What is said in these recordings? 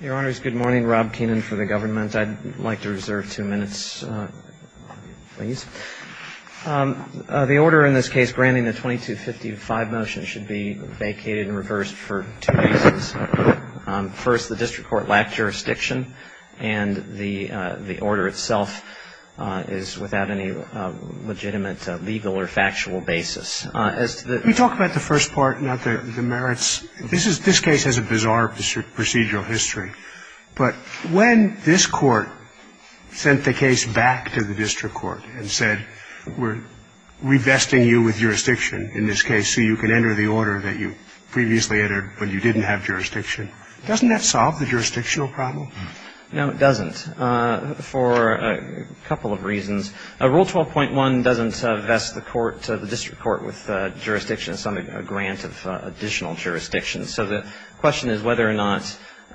Your Honors, good morning. Rob Keenan for the government. I'd like to reserve two minutes, please. The order in this case, granting the 2255 motion, should be vacated and reversed for two reasons. First, the district court lacked jurisdiction, and the order itself is without any legitimate legal or factual basis. We talk about the first part, not the merits. This case has a bizarre procedural history. But when this Court sent the case back to the district court and said we're revesting you with jurisdiction in this case so you can enter the order that you previously entered but you didn't have jurisdiction, doesn't that solve the jurisdictional problem? No, it doesn't, for a couple of reasons. Rule 12.1 doesn't vest the court, the district court, with jurisdiction. It's only a grant of additional jurisdiction. So the question is whether or not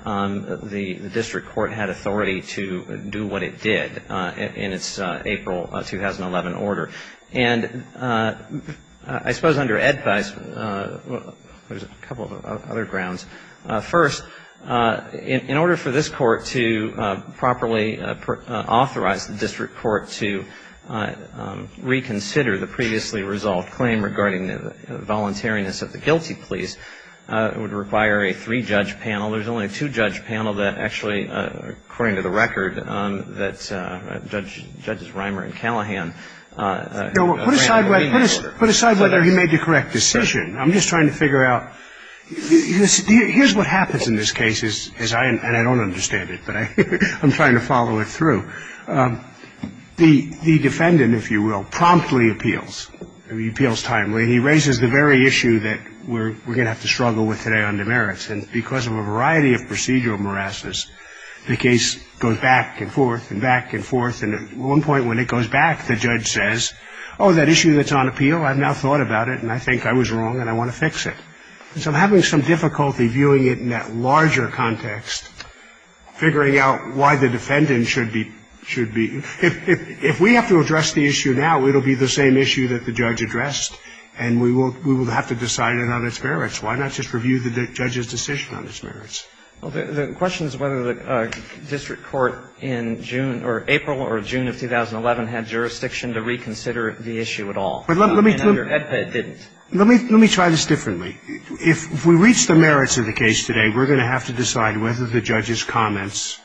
the district court had authority to do what it did in its April 2011 order. And I suppose under Ed Feist, there's a couple of other grounds. First, in order for this Court to properly authorize the district court to reconsider the previously resolved claim regarding the voluntariness of the guilty please, it would require a three-judge panel. There's only a two-judge panel that actually, according to the record, that Judges Reimer and Callahan, the two of them, have the authority to review the case. So the question is whether or not the district court has the authority to review the case. Put aside whether he made the correct decision. I'm just trying to figure out, here's what happens in this case, and I don't understand it, but I'm trying to follow it through. The defendant, if you will, promptly appeals. I mean, appeals timely. He raises the very issue that we're going to have to struggle with today on demerits. And because of a variety of procedural morasses, the case goes back and forth and back and forth. And at one point when it goes back, the judge says, oh, that issue that's on appeal, I've now thought about it, and I think I was wrong and I want to fix it. And so having some difficulty viewing it in that larger context, figuring out why the defendant should be ‑‑ if we have to address the issue now, it will be the same issue that the judge addressed and we will have to decide it on its merits. Why not just review the judge's decision on its merits? Well, the question is whether the district court in June or April or June of 2011 had jurisdiction to reconsider the issue at all. And under HEDPA it didn't. Let me try this differently. If we reach the merits of the case today, we're going to have to decide whether the judge's comments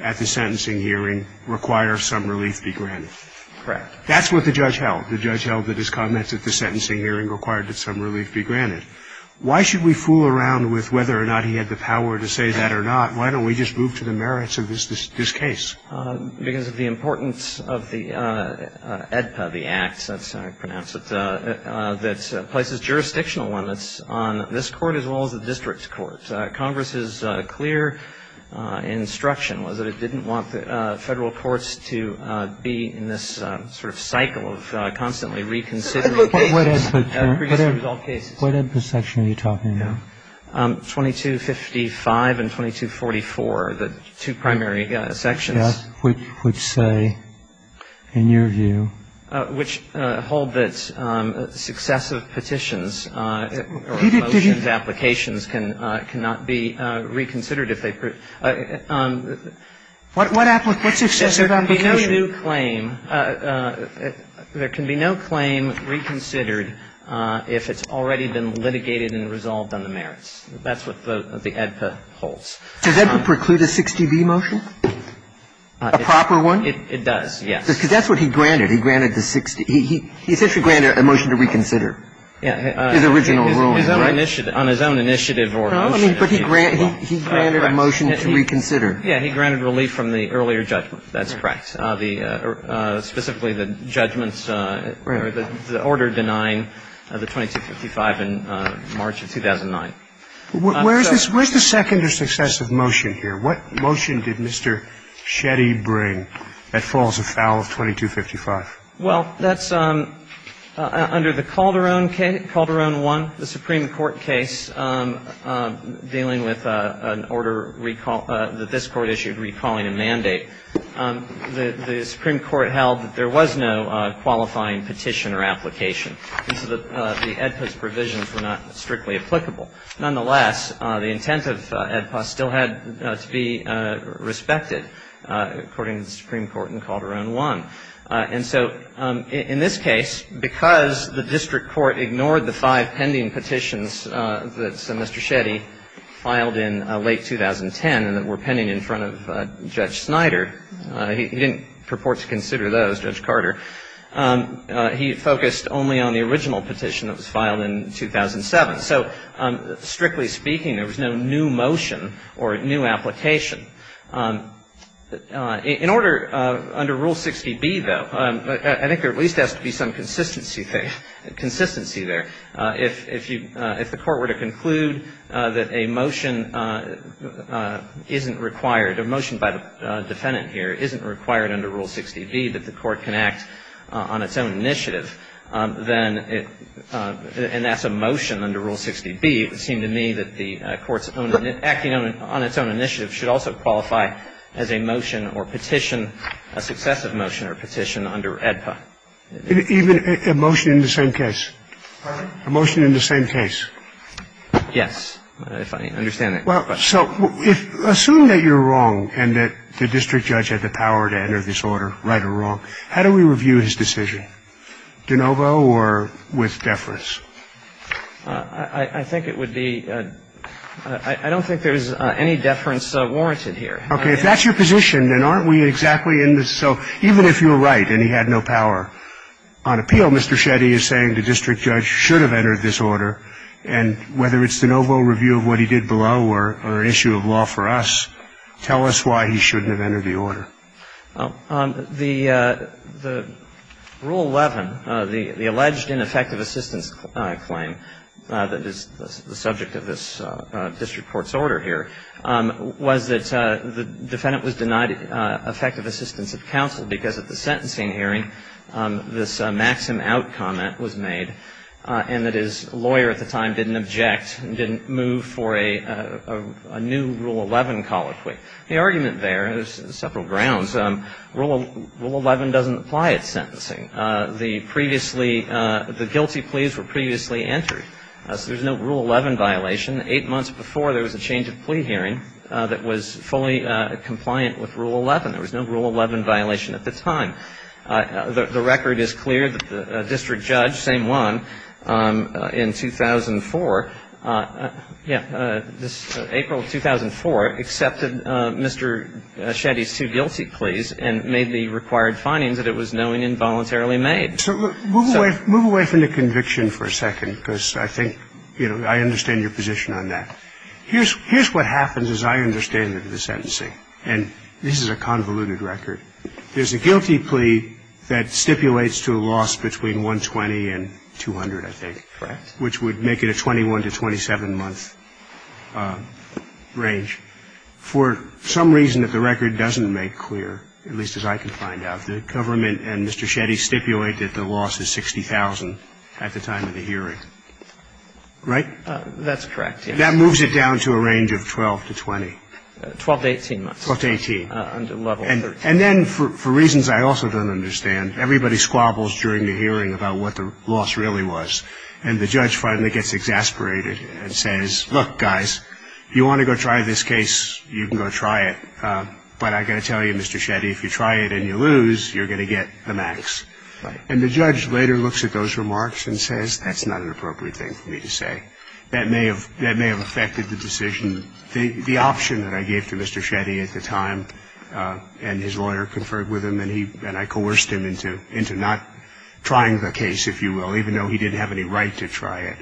at the sentencing hearing require some relief be granted. Correct. That's what the judge held. The judge held that his comments at the sentencing hearing required that some relief be granted. Why should we fool around with whether or not he had the power to say that or not? Why don't we just move to the merits of this case? Because of the importance of the HEDPA, the act, that's how I pronounce it, that places jurisdictional limits on this court as well as the district's court. Congress's clear instruction was that it didn't want the Federal courts to be in this sort of cycle of constantly reconsidering cases. What HEDPA section are you talking about? 2255 and 2244, the two primary sections. Yes. Which say, in your view? Which hold that successive petitions or motions, applications, cannot be reconsidered if they prove. What successive application? There can be no new claim. There can be no claim reconsidered if it's already been litigated and resolved on the merits. That's what the HEDPA holds. Does HEDPA preclude a 60B motion? A proper one? It does, yes. Because that's what he granted. He granted the 60. He essentially granted a motion to reconsider. Yeah. His original ruling, right? On his own initiative or motion. No, I mean, but he granted a motion to reconsider. Yeah. He granted relief from the earlier judgment. That's correct. Specifically, the judgments or the order denying the 2255 in March of 2009. Where's the second or successive motion here? What motion did Mr. Shetty bring that falls afoul of 2255? Well, that's under the Calderon case, Calderon 1, the Supreme Court case dealing with an order that this Court issued recalling a mandate. The Supreme Court held that there was no qualifying petition or application, and so the HEDPA's provisions were not strictly applicable. Nonetheless, the intent of HEDPA still had to be respected, according to the Supreme Court in Calderon 1. And so in this case, because the district court ignored the five pending petitions that Mr. Shetty filed in late 2010 and that were pending in front of Judge Snyder, he didn't purport to consider those, Judge Carter. He focused only on the original petition that was filed in 2007. So strictly speaking, there was no new motion or new application. In order, under Rule 60B, though, I think there at least has to be some consistency there. If you – if the Court were to conclude that a motion isn't required, a motion by the defendant here isn't required under Rule 60B, that the Court can act on its own initiative, then it – and that's a motion under Rule 60B. It would seem to me that the Court's own – acting on its own initiative should also qualify as a motion or petition, a successive motion or petition under HEDPA. Even a motion in the same case? Pardon me? A motion in the same case. Yes, if I understand that correctly. Well, so if – assume that you're wrong and that the district judge had the power to enter this order, right or wrong, how do we review his decision? De novo or with deference? I think it would be – I don't think there's any deference warranted here. Okay. If that's your position, then aren't we exactly in the – so even if you're right and he had no power, on appeal, Mr. Shetty is saying the district judge should have entered this order, and whether it's de novo review of what he did below or issue of law for us, tell us why he shouldn't have entered the order. The Rule 11, the alleged ineffective assistance claim that is the subject of this district court's order here, was that the defendant was denied effective assistance of counsel because at the sentencing hearing this maxim out comment was made, and that his lawyer at the time didn't object and didn't move for a new Rule 11 colloquy. The argument there, and there's several grounds, Rule 11 doesn't apply at sentencing. The previously – the guilty pleas were previously entered. So there's no Rule 11 violation. Eight months before, there was a change of plea hearing that was fully compliant with Rule 11. There was no Rule 11 violation at the time. The record is clear that the district judge, same one, in 2004 – yeah, April of 2004 accepted Mr. Shetty's two guilty pleas and made the required findings that it was knowing involuntarily made. So move away from the conviction for a second, because I think, you know, I understand your position on that. Here's what happens as I understand it at the sentencing, and this is a convoluted record. There's a guilty plea that stipulates to a loss between 120 and 200, I think. Correct. Which would make it a 21 to 27-month range. For some reason that the record doesn't make clear, at least as I can find out, the government and Mr. Shetty stipulate that the loss is 60,000 at the time of the hearing. Right? That's correct, yes. That moves it down to a range of 12 to 20. 12 to 18 months. 12 to 18. Under level 13. And then, for reasons I also don't understand, everybody squabbles during the hearing about what the loss really was, and the judge finally gets exasperated and says, look, guys, if you want to go try this case, you can go try it, but I got to tell you, Mr. Shetty, if you try it and you lose, you're going to get the max. And the judge later looks at those remarks and says, that's not an appropriate thing for me to say. That may have affected the decision. The option that I gave to Mr. Shetty at the time and his lawyer conferred with him and I coerced him into not trying the case, if you will, even though he didn't have any right to try it.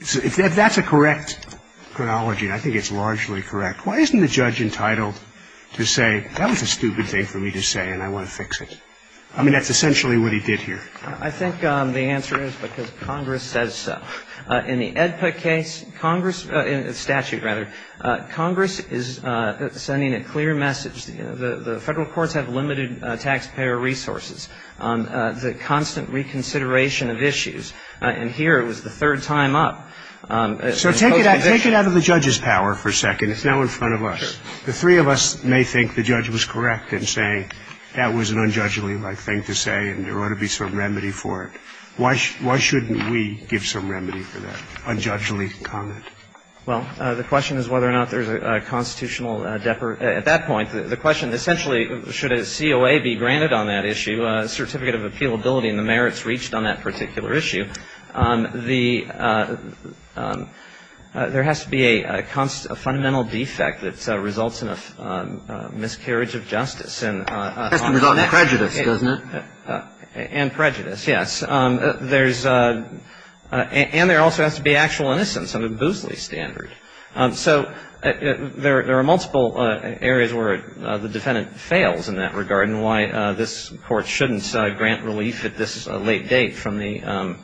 If that's a correct chronology, and I think it's largely correct, why isn't the judge entitled to say, that was a stupid thing for me to say and I want to fix it? I mean, that's essentially what he did here. I think the answer is because Congress says so. In the Edput case, Congress, statute rather, Congress is sending a clear message. The Federal courts have limited taxpayer resources. The constant reconsideration of issues. And here it was the third time up. So take it out of the judge's power for a second. It's now in front of us. Sure. The three of us may think the judge was correct in saying, that was an unjudgeable thing to say and there ought to be some remedy for it. Why shouldn't we give some remedy for that unjudgeable comment? Well, the question is whether or not there's a constitutional at that point. The question essentially, should a COA be granted on that issue, a certificate of appealability and the merits reached on that particular issue. There has to be a fundamental defect that results in a miscarriage of justice. It has to result in prejudice, doesn't it? And prejudice, yes. There's and there also has to be actual innocence under the Boosley standard. So there are multiple areas where the defendant fails in that regard and why this Court shouldn't grant relief at this late date from the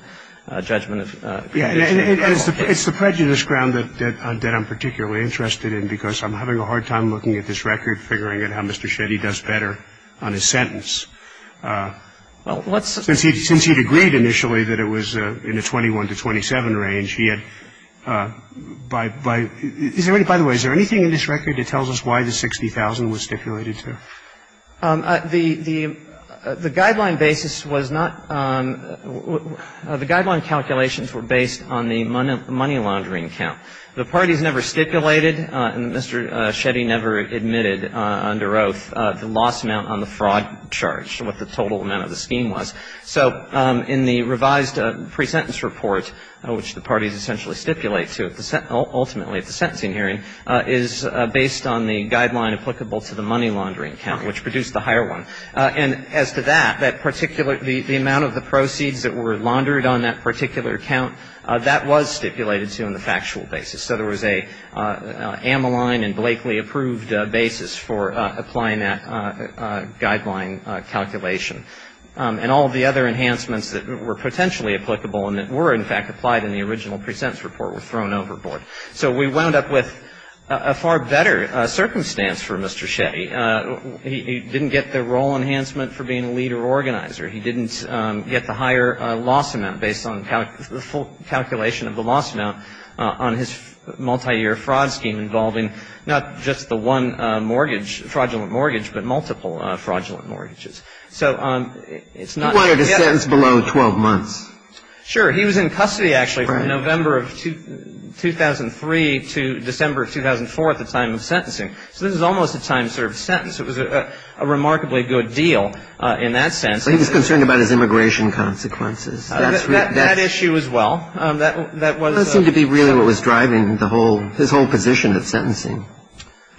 judgment of prejudice. It's the prejudice ground that I'm particularly interested in because I'm having a hard time looking at this record, figuring out how Mr. Shetty does better on his sentence. Well, let's see. Since he had agreed initially that it was in the 21 to 27 range, he had, by the way, is there anything in this record that tells us why the 60,000 was stipulated to? The guideline basis was not, the guideline calculations were based on the money laundering count. The parties never stipulated and Mr. Shetty never admitted under oath the loss amount on the fraud charge, what the total amount of the scheme was. So in the revised presentence report, which the parties essentially stipulate to ultimately at the sentencing hearing, is based on the guideline applicable to the money laundering count, which produced the higher one. And as to that, that particular, the amount of the proceeds that were laundered on that particular count, that was stipulated to in the factual basis. So there was a Amaline and Blakely approved basis for applying that guideline calculation. And all of the other enhancements that were potentially applicable and that were, in fact, applied in the original presentence report were thrown overboard. So we wound up with a far better circumstance for Mr. Shetty. He didn't get the role enhancement for being a leader organizer. He didn't get the higher loss amount based on the calculation of the loss amount on his multiyear fraud scheme involving not just the one mortgage, fraudulent mortgage, but multiple fraudulent mortgages. So it's not the case. He wanted a sentence below 12 months. Sure. He was in custody, actually, from November of 2003 to December of 2004 at the time of sentencing. So this is almost a time-served sentence. It was a remarkably good deal in that sense. He was concerned about his immigration consequences. That issue as well. That seemed to be really what was driving the whole his whole position of sentencing.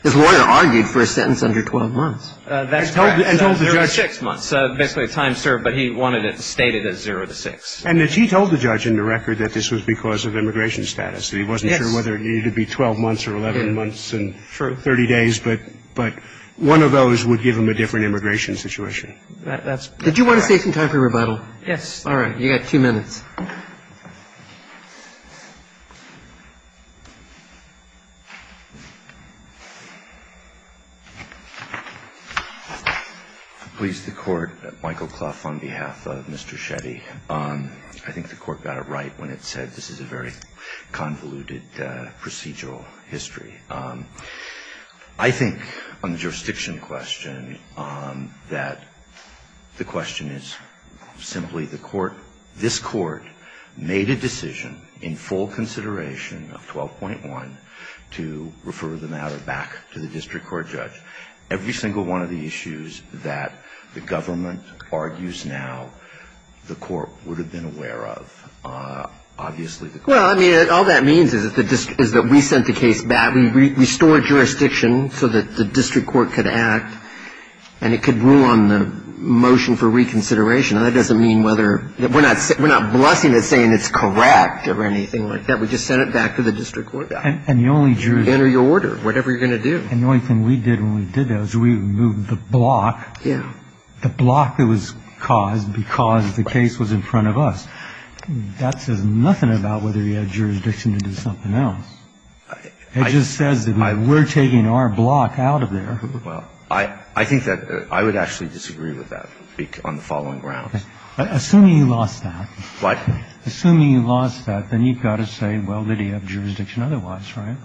His lawyer argued for a sentence under 12 months. That's correct. There were six months, basically a time served, but he wanted it stated as zero to six. And he told the judge in the record that this was because of immigration status, that he wasn't sure whether it needed to be 12 months or 11 months and 30 days, but one of those would give him a different immigration situation. That's correct. Did you want to say some time for rebuttal? Yes. All right. You've got two minutes. Please, the Court. Michael Clough on behalf of Mr. Shetty. I think the Court got it right when it said this is a very convoluted procedural history. I think on the jurisdiction question that the question is simply the Court, this Court, made a decision in full consideration of 12.1 to refer the matter back to the district court judge. Every single one of the issues that the government argues now, the Court would have been aware of. Well, I mean, all that means is that we sent the case back. We restored jurisdiction so that the district court could act and it could rule on the motion for reconsideration. That doesn't mean whether we're not blessing it saying it's correct or anything like that. We just sent it back to the district court judge. And the only jurisdiction. Enter your order, whatever you're going to do. And the only thing we did when we did that was we removed the block, the block that was caused because the case was in front of us. That says nothing about whether you had jurisdiction to do something else. It just says that we're taking our block out of there. Well, I think that I would actually disagree with that on the following grounds. Assuming you lost that. What? Assuming you lost that, then you've got to say, well, did he have jurisdiction otherwise, right?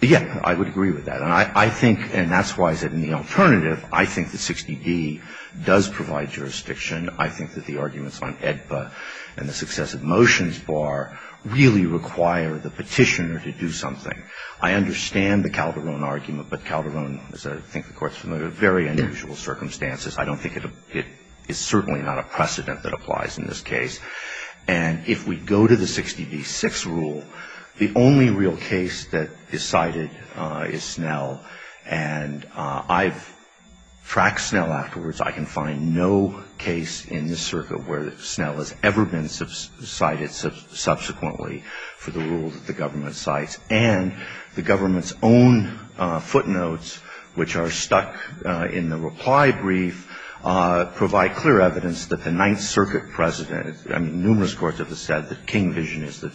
Yeah, I would agree with that. And I think, and that's why I said in the alternative, I think that 60d does provide jurisdiction. I think that the arguments on AEDPA and the successive motions bar really require the Petitioner to do something. I understand the Calderon argument. But Calderon, as I think the Court's familiar, very unusual circumstances. I don't think it is certainly not a precedent that applies in this case. And if we go to the 60d-6 rule, the only real case that is cited is Snell. And I've tracked Snell afterwards. I can find no case in this circuit where Snell has ever been cited subsequently for the rule that the government cites. And the government's own footnotes, which are stuck in the reply brief, provide clear evidence that the Ninth Circuit precedent, I mean, numerous courts have said that King vision is the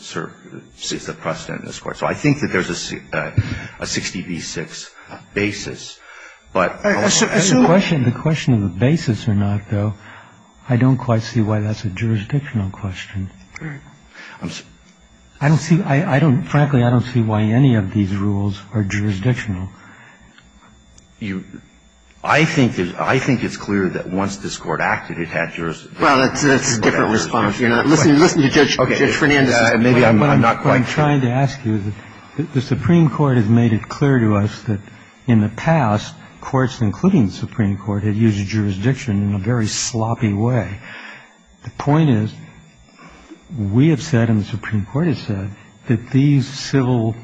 precedent in this court. So I think that there's a 60d-6 basis. But the question of the basis or not, though, I don't quite see why that's a jurisdictional question. I don't see why, frankly, I don't see why any of these rules are jurisdictional. I think it's clear that once this Court acted, it had jurisdiction. Well, that's a different response. I'm not quite sure. I'd like to ask you, the Supreme Court has made it clear to us that in the past, courts, including the Supreme Court, had used jurisdiction in a very sloppy way. The point is, we have said and the Supreme Court has said that these civil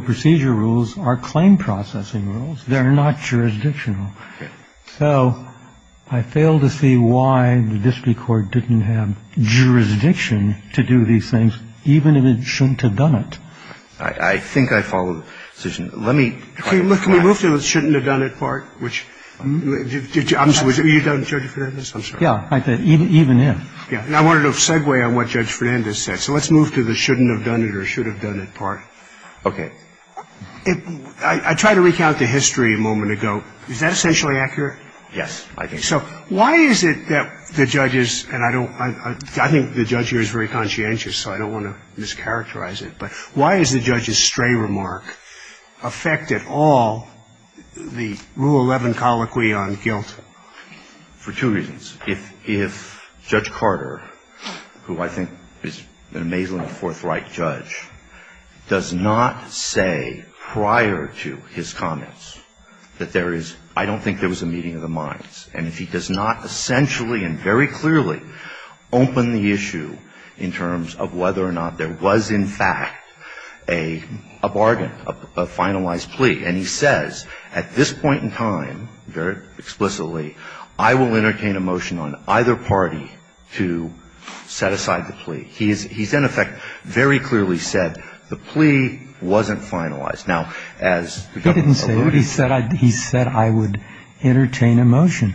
procedure rules are claim processing rules. They're not jurisdictional. So I fail to see why the district court didn't have jurisdiction to do these things, even if it shouldn't have done it. I think I follow the decision. Let me try to clarify. Can we move to the shouldn't have done it part, which you've done, Judge Fernandez? I'm sorry. Yeah. Even if. Yeah. And I wanted to segue on what Judge Fernandez said. So let's move to the shouldn't have done it or should have done it part. Okay. I tried to recount the history a moment ago. Is that essentially accurate? Yes, I think so. So why is it that the judges, and I don't, I think the judge here is very conscientious, so I don't want to mischaracterize it, but why is the judge's stray remark affected all the Rule 11 colloquy on guilt? For two reasons. If Judge Carter, who I think is an amazingly forthright judge, does not say prior to his comments that there is, I don't think there was a meeting of the minds, and if he does not essentially and very clearly open the issue in terms of whether or not there was in fact a bargain, a finalized plea, and he says at this point in time, very explicitly, I will entertain a motion on either party to set aside the plea, he's in effect very clearly said the plea wasn't finalized. Now, as the judge alluded to. He didn't say it. He said I would entertain a motion.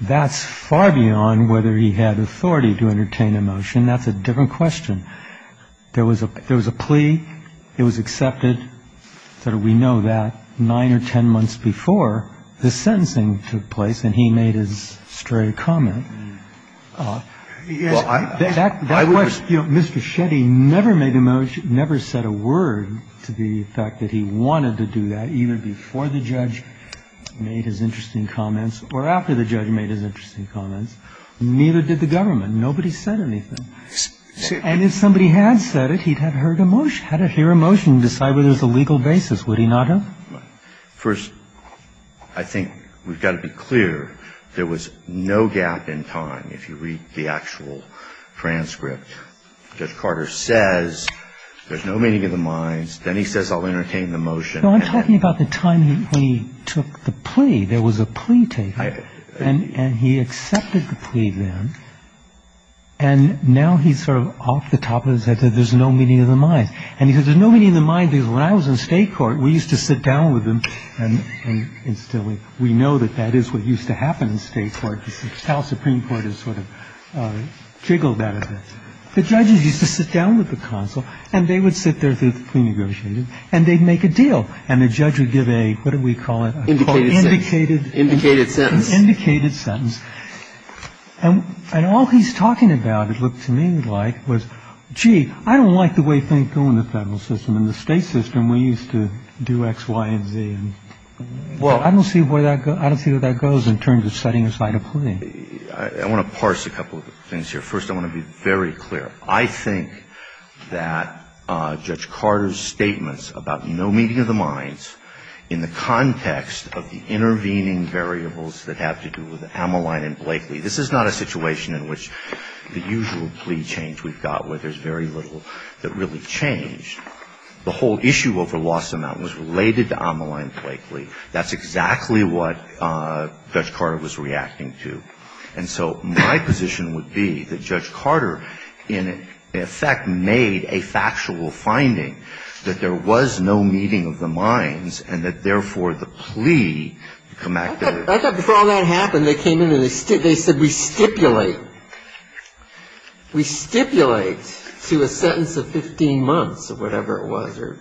That's far beyond whether he had authority to entertain a motion. That's a different question. There was a plea. It was accepted. We know that. Nine or ten months before, the sentencing took place and he made his stray comment. And that question, Mr. Shetty never made a motion, never said a word to the fact that he wanted to do that, either before the judge made his interesting comments or after the judge made his interesting comments. Neither did the government. Nobody said anything. And if somebody had said it, he'd have heard a motion, had to hear a motion to decide whether there's a legal basis. Would he not have? First, I think we've got to be clear there was no gap in time. If you read the actual transcript, Judge Carter says there's no meeting of the minds. Then he says I'll entertain the motion. I'm talking about the time he took the plea. There was a plea taken. And he accepted the plea then. And now he's sort of off the top of his head that there's no meeting of the minds. And he says there's no meeting of the minds because when I was in state court, we used to sit down with them and instill it. We know that that is what used to happen in state court. The House Supreme Court has sort of jiggled that a bit. The judges used to sit down with the consul, and they would sit there through the plea negotiation, and they'd make a deal, and the judge would give a, what do we call it? Indicated sentence. Indicated sentence. Indicated sentence. And all he's talking about, it looked to me like, was, gee, I don't like the way things go in the federal system. In the state system, we used to do X, Y, and Z. Well, I don't see where that goes in terms of setting aside a plea. I want to parse a couple of things here. First, I want to be very clear. I think that Judge Carter's statements about no meeting of the minds in the context of the intervening variables that have to do with Ameline and Blakely, this is not a situation in which the usual plea change that we've got where there's very little that really changed. The whole issue over loss amount was related to Ameline and Blakely. That's exactly what Judge Carter was reacting to. And so my position would be that Judge Carter, in effect, made a factual finding that there was no meeting of the minds and that, therefore, the plea to come back to the... I thought before all that happened, they came in and they said we stipulate. We stipulate to a sentence of 15 months or whatever it was, or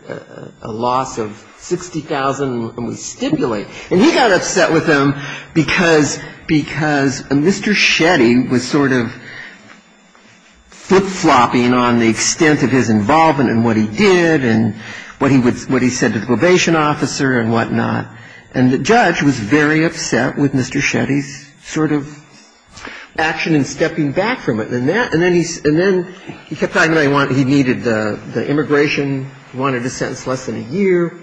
a loss of $60,000, and we stipulate. And he got upset with them because Mr. Shetty was sort of flip-flopping on the extent of his involvement and what he did and what he said to the probation officer and whatnot. And the judge was very upset with Mr. Shetty's sort of action in stepping back from it. And then he kept talking about he needed the immigration, wanted a sentence less than a year,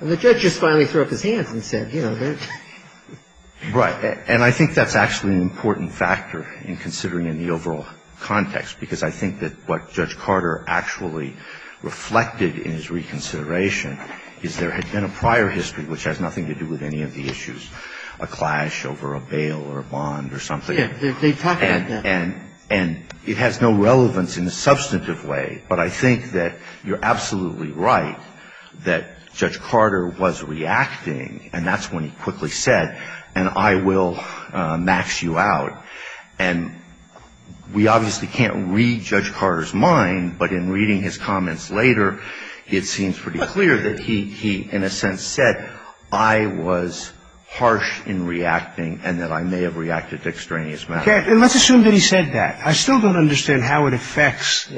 and the judge just finally threw up his hands and said, you know... Right. And I think that's actually an important factor in considering in the overall context, because I think that what Judge Carter actually reflected in his reconsideration is there had been a prior history, which has nothing to do with any of the issues, a clash over a bail or a bond or something. Yes. They talk about that. And it has no relevance in a substantive way, but I think that you're absolutely right that Judge Carter was reacting, and that's when he quickly said, and I will max you out. And we obviously can't read Judge Carter's mind, but in reading his comments later, it seems pretty clear that he, in a sense, said, I was harsh in reacting and that I may have reacted dextraneously. Okay. And let's assume that he said that. I still don't understand how it affects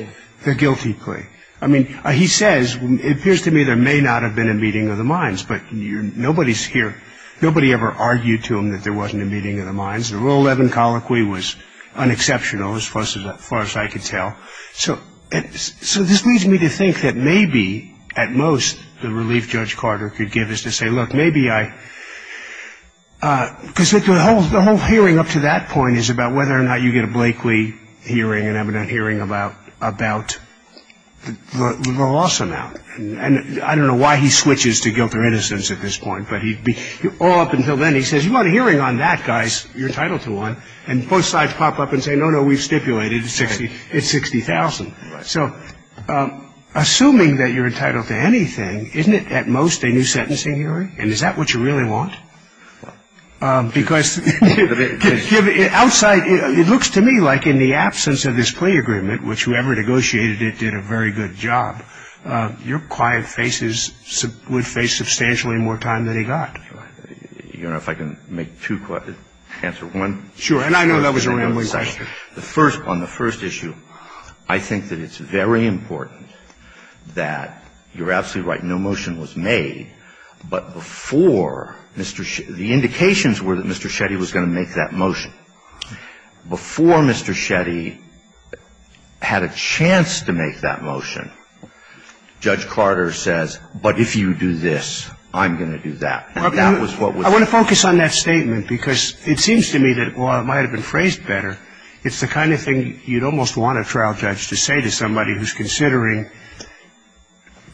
the guilty plea. I mean, he says, it appears to me there may not have been a meeting of the minds, but nobody's here, nobody ever argued to him that there wasn't a meeting of the minds. The Role 11 colloquy was unexceptional as far as I could tell. So this leads me to think that maybe, at most, the relief Judge Carter could give is to say, look, maybe I – because the whole hearing up to that point is about whether or not you get a Blakely hearing and evident hearing about the loss amount. And I don't know why he switches to guilt or innocence at this point, but all up until then, he says, you want a hearing on that, guys, you're entitled to one. And both sides pop up and say, no, no, we've stipulated. It's 60,000. So assuming that you're entitled to anything, isn't it at most a new sentencing hearing? And is that what you really want? Because outside – it looks to me like in the absence of this plea agreement, which whoever negotiated it did a very good job, your quiet faces would face substantially more time than he got. You don't know if I can make two – answer one? Sure. And I know that was a rambling question. The first – on the first issue, I think that it's very important that you're absolutely right, no motion was made, but before Mr. – the indications were that Mr. Shetty was going to make that motion. Before Mr. Shetty had a chance to make that motion, Judge Carter says, but if you do this, I'm going to do that. And that was what was – I want to focus on that statement because it seems to me that while it might have been phrased better, it's the kind of thing you'd almost want a trial judge to say to somebody who's considering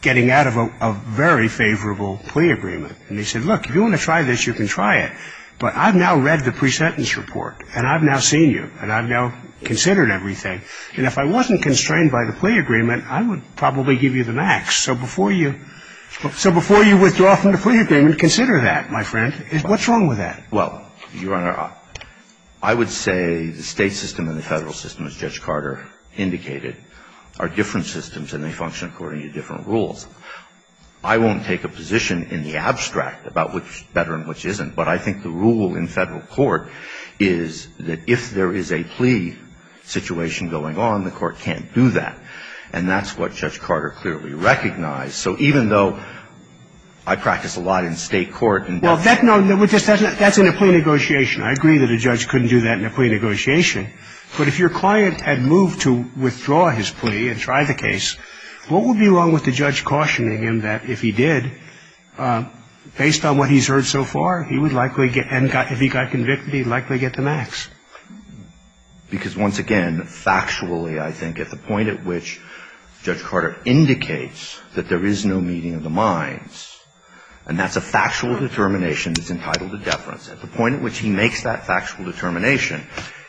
getting out of a very favorable plea agreement. And they said, look, if you want to try this, you can try it, but I've now read the pre-sentence report and I've now seen you and I've now considered everything. And if I wasn't constrained by the plea agreement, I would probably give you the max. So before you – so before you withdraw from the plea agreement, consider that, my friend. What's wrong with that? Well, Your Honor, I would say the State system and the Federal system, as Judge Carter indicated, are different systems and they function according to different rules. I won't take a position in the abstract about which is better and which isn't, but I think the rule in Federal court is that if there is a plea situation going on, the court can't do that. And that's what Judge Carter clearly recognized. So even though I practice a lot in State court and – Well, that's in a plea negotiation. I agree that a judge couldn't do that in a plea negotiation, but if your client had moved to withdraw his plea and try the case, what would be wrong with the judge cautioning him that if he did, based on what he's heard so far, he would likely get – if he got convicted, he'd likely get the max? Because once again, factually, I think at the point at which Judge Carter indicates that there is no meeting of the minds, and that's a factual determination that's entitled to deference, at the point at which he makes that factual determination,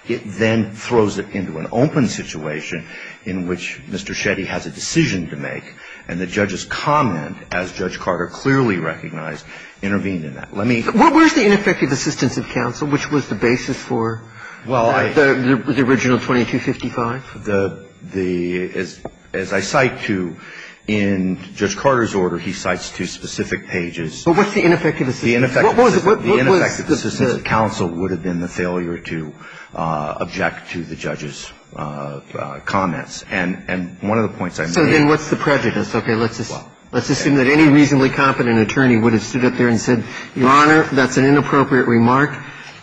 it then throws it into an open situation in which Mr. Shetty has a decision to make and the judge's comment, as Judge Carter clearly recognized, intervened in that. Let me – Where's the ineffective assistance of counsel, which was the basis for the original 2255? The – as I cite to – in Judge Carter's order, he cites two specific pages. But what's the ineffective assistance? The ineffective assistance of counsel would have been the failure to object to the judge's comments. And one of the points I made – So then what's the prejudice? Okay. Let's assume that any reasonably competent attorney would have stood up there and said, Your Honor, that's an inappropriate remark.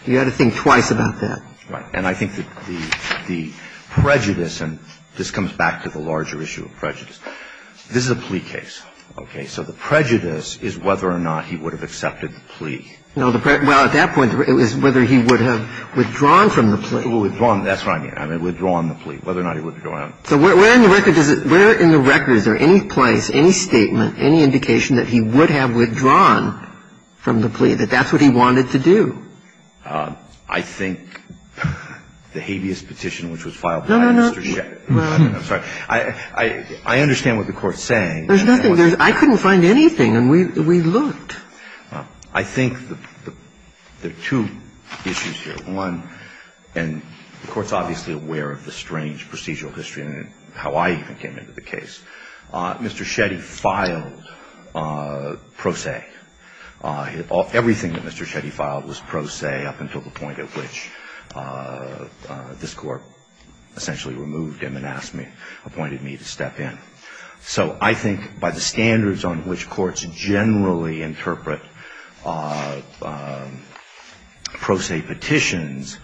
You had to think twice about that. Right. And I think that the prejudice – and this comes back to the larger issue of prejudice – this is a plea case, okay? So the prejudice is whether or not he would have accepted the plea. No, the – well, at that point, it was whether he would have withdrawn from the plea. Withdrawn, that's what I mean. I mean, withdrawn the plea, whether or not he would have. So where in the record does it – where in the record is there any place, any statement, any indication that he would have withdrawn from the plea, that that's what he wanted to do? I think the habeas petition, which was filed by Mr. Shetty – No, no, no. I'm sorry. I understand what the Court's saying. There's nothing. I couldn't find anything, and we looked. I think there are two issues here. One, and the Court's obviously aware of the strange procedural history and how I even came into the case. Mr. Shetty filed pro se. Everything that Mr. Shetty filed was pro se up until the point at which this Court essentially removed him and asked me, appointed me to step in. So I think by the standards on which courts generally interpret pro se petitions,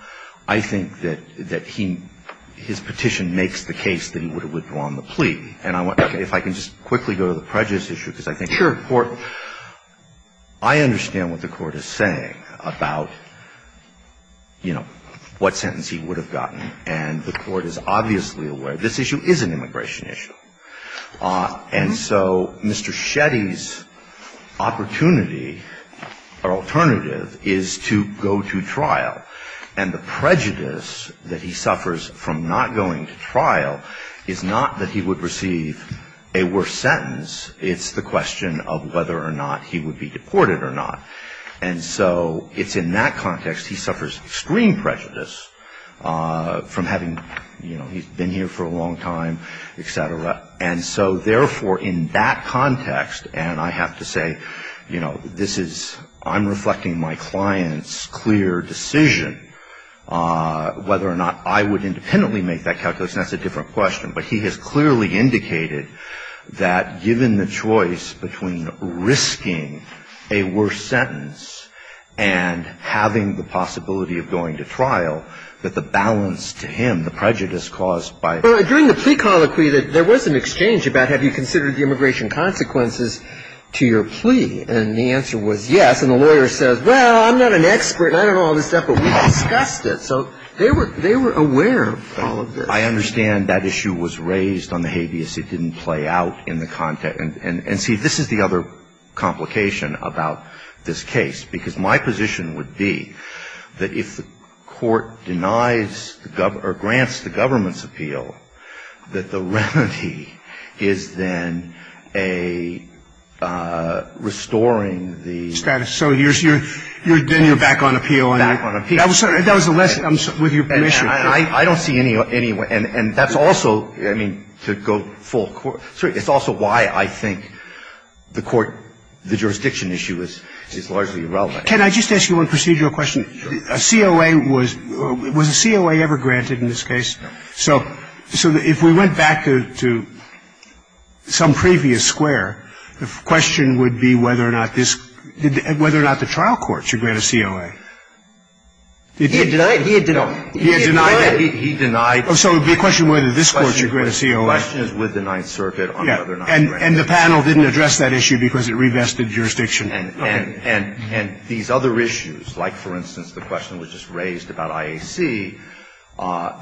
I think that he – his petition makes the case that he would have withdrawn the plea. And if I can just quickly go to the prejudice issue, because I think it's important. I understand what the Court is saying about, you know, what sentence he would have gotten, and the Court is obviously aware. This issue is an immigration issue. And so Mr. Shetty's opportunity or alternative is to go to trial, and the prejudice that he suffers from not going to trial is not that he would receive a worse sentence. It's the question of whether or not he would be deported or not. And so it's in that context he suffers extreme prejudice from having, you know, he's been here for a long time, et cetera. And so therefore, in that context, and I have to say, you know, this is – I'm reflecting my client's clear decision whether or not I would independently make that calculation. That's a different question. But he has clearly indicated that given the choice between risking a worse sentence and having the possibility of going to trial, that the balance to him, the prejudice caused by the prejudice. Well, during the plea colloquy, there was an exchange about have you considered the immigration consequences to your plea. And the answer was yes, and the lawyer says, well, I'm not an expert, and I don't know all this stuff, but we discussed it. So they were aware of all of this. I understand that issue was raised on the habeas. It didn't play out in the content. And see, this is the other complication about this case, because my position would be that if the court denies or grants the government's appeal, that the remedy is then a restoring the status. So you're then you're back on appeal. Back on appeal. That was the lesson with your permission. I don't see any way, and that's also, I mean, to go full court, it's also why I think the court, the jurisdiction issue is largely irrelevant. Can I just ask you one procedural question? Sure. A COA was, was a COA ever granted in this case? No. So if we went back to some previous square, the question would be whether or not this, whether or not the trial court should grant a COA. He had denied it. He denied it. He denied it. He denied it. So it would be a question whether this court should grant a COA. The question is with the Ninth Circuit on whether or not it was granted. And the panel didn't address that issue because it revested jurisdiction. And these other issues, like, for instance, the question was just raised about IAC,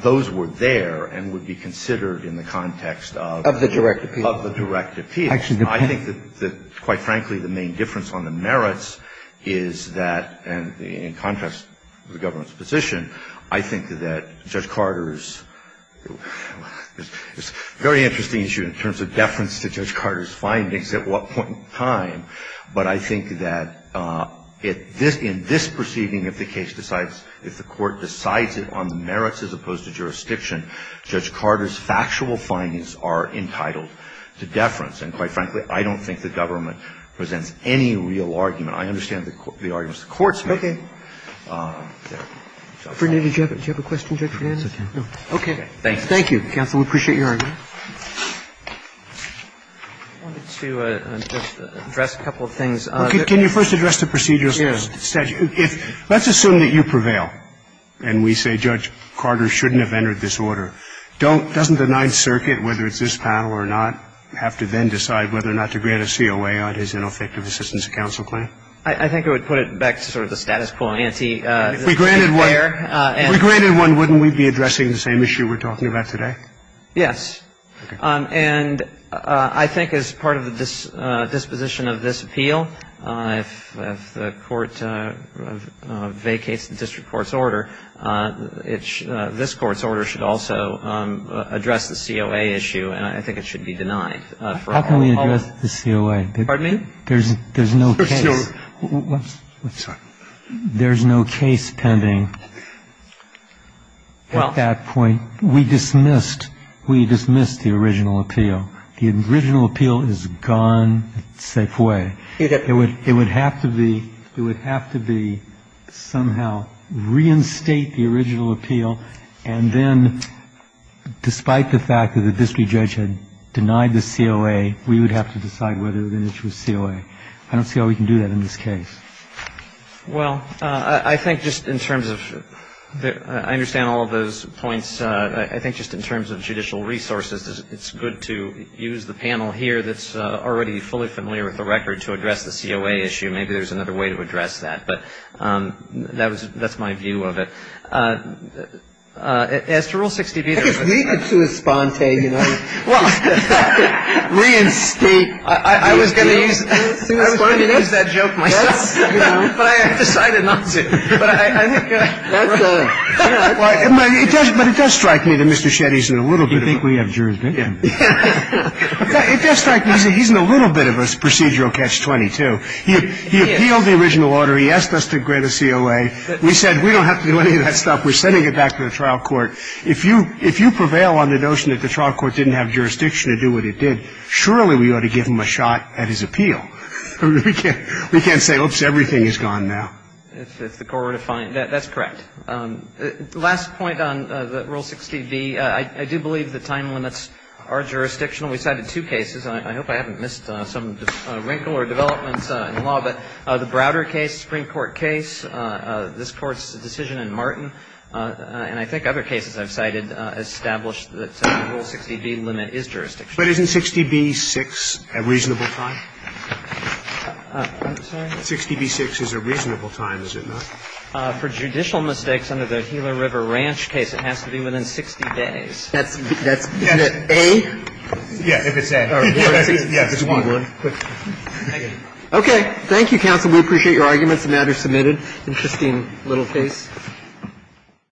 those were there and would be considered in the context of the direct appeal. Of the direct appeal. Of the direct appeal. I think that, quite frankly, the main difference on the merits is that, and it goes in contrast to the government's position, I think that Judge Carter's, it's a very interesting issue in terms of deference to Judge Carter's findings at what point in time, but I think that in this proceeding, if the case decides, if the court decides it on the merits as opposed to jurisdiction, Judge Carter's factual findings are entitled to deference. And, quite frankly, I don't think the government presents any real argument. I understand the arguments the courts make. Roberts. Roberts. Do you have a question, Judge Fernandez? Okay. Thank you. Counsel, we appreciate your argument. I wanted to just address a couple of things. Can you first address the procedural statute? Yes. Let's assume that you prevail and we say Judge Carter shouldn't have entered this order. Doesn't the Ninth Circuit, whether it's this panel or not, have to then decide whether or not to grant a COA on his ineffective assistance to counsel claim? I think it would put it back to sort of the status quo, anti-fair. If we granted one, wouldn't we be addressing the same issue we're talking about today? Yes. And I think as part of the disposition of this appeal, if the court vacates the district court's order, this court's order should also address the COA issue, and I think it should be denied. How can we address the COA? Pardon me? There's no case. I'm sorry. There's no case pending at that point. We dismissed the original appeal. The original appeal is gone. It's a safe way. It would have to be somehow reinstate the original appeal, and then despite the fact that the district judge had denied the COA, we would have to decide whether or not it was COA. I don't see how we can do that in this case. Well, I think just in terms of the ‑‑ I understand all of those points. I think just in terms of judicial resources, it's good to use the panel here that's already fully familiar with the record to address the COA issue. Maybe there's another way to address that, but that was ‑‑ that's my view of it. As to Rule 60b, there is a ‑‑ If we could sui sponte, you know, reinstate ‑‑ I was going to use that joke myself. But I decided not to. But I think ‑‑ But it does strike me that Mr. Shetty is in a little bit of a ‑‑ Do you think we have jurisdiction? It does strike me that he's in a little bit of a procedural catch-22. He appealed the original order. He asked us to grant a COA. We said we don't have to do any of that stuff. We're sending it back to the trial court. If you prevail on the notion that the trial court didn't have jurisdiction to do what it did, surely we ought to give him a shot at his appeal. We can't say, oops, everything is gone now. If the court were to find ‑‑ that's correct. The last point on Rule 60b, I do believe the time limits are jurisdictional. We cited two cases. I hope I haven't missed some wrinkle or developments in the law. But the Browder case, Supreme Court case, this Court's decision in Martin, and I think other cases I've cited, established that Rule 60b limit is jurisdictional. But isn't 60b-6 a reasonable time? I'm sorry? 60b-6 is a reasonable time, is it not? For judicial mistakes under the Gila River Ranch case, it has to be within 60 days. That's ‑‑ that's A? Yes. If it's A. Yes. Okay. Thank you, counsel. We appreciate your arguments. The matter is submitted. Interesting little case. Thank you.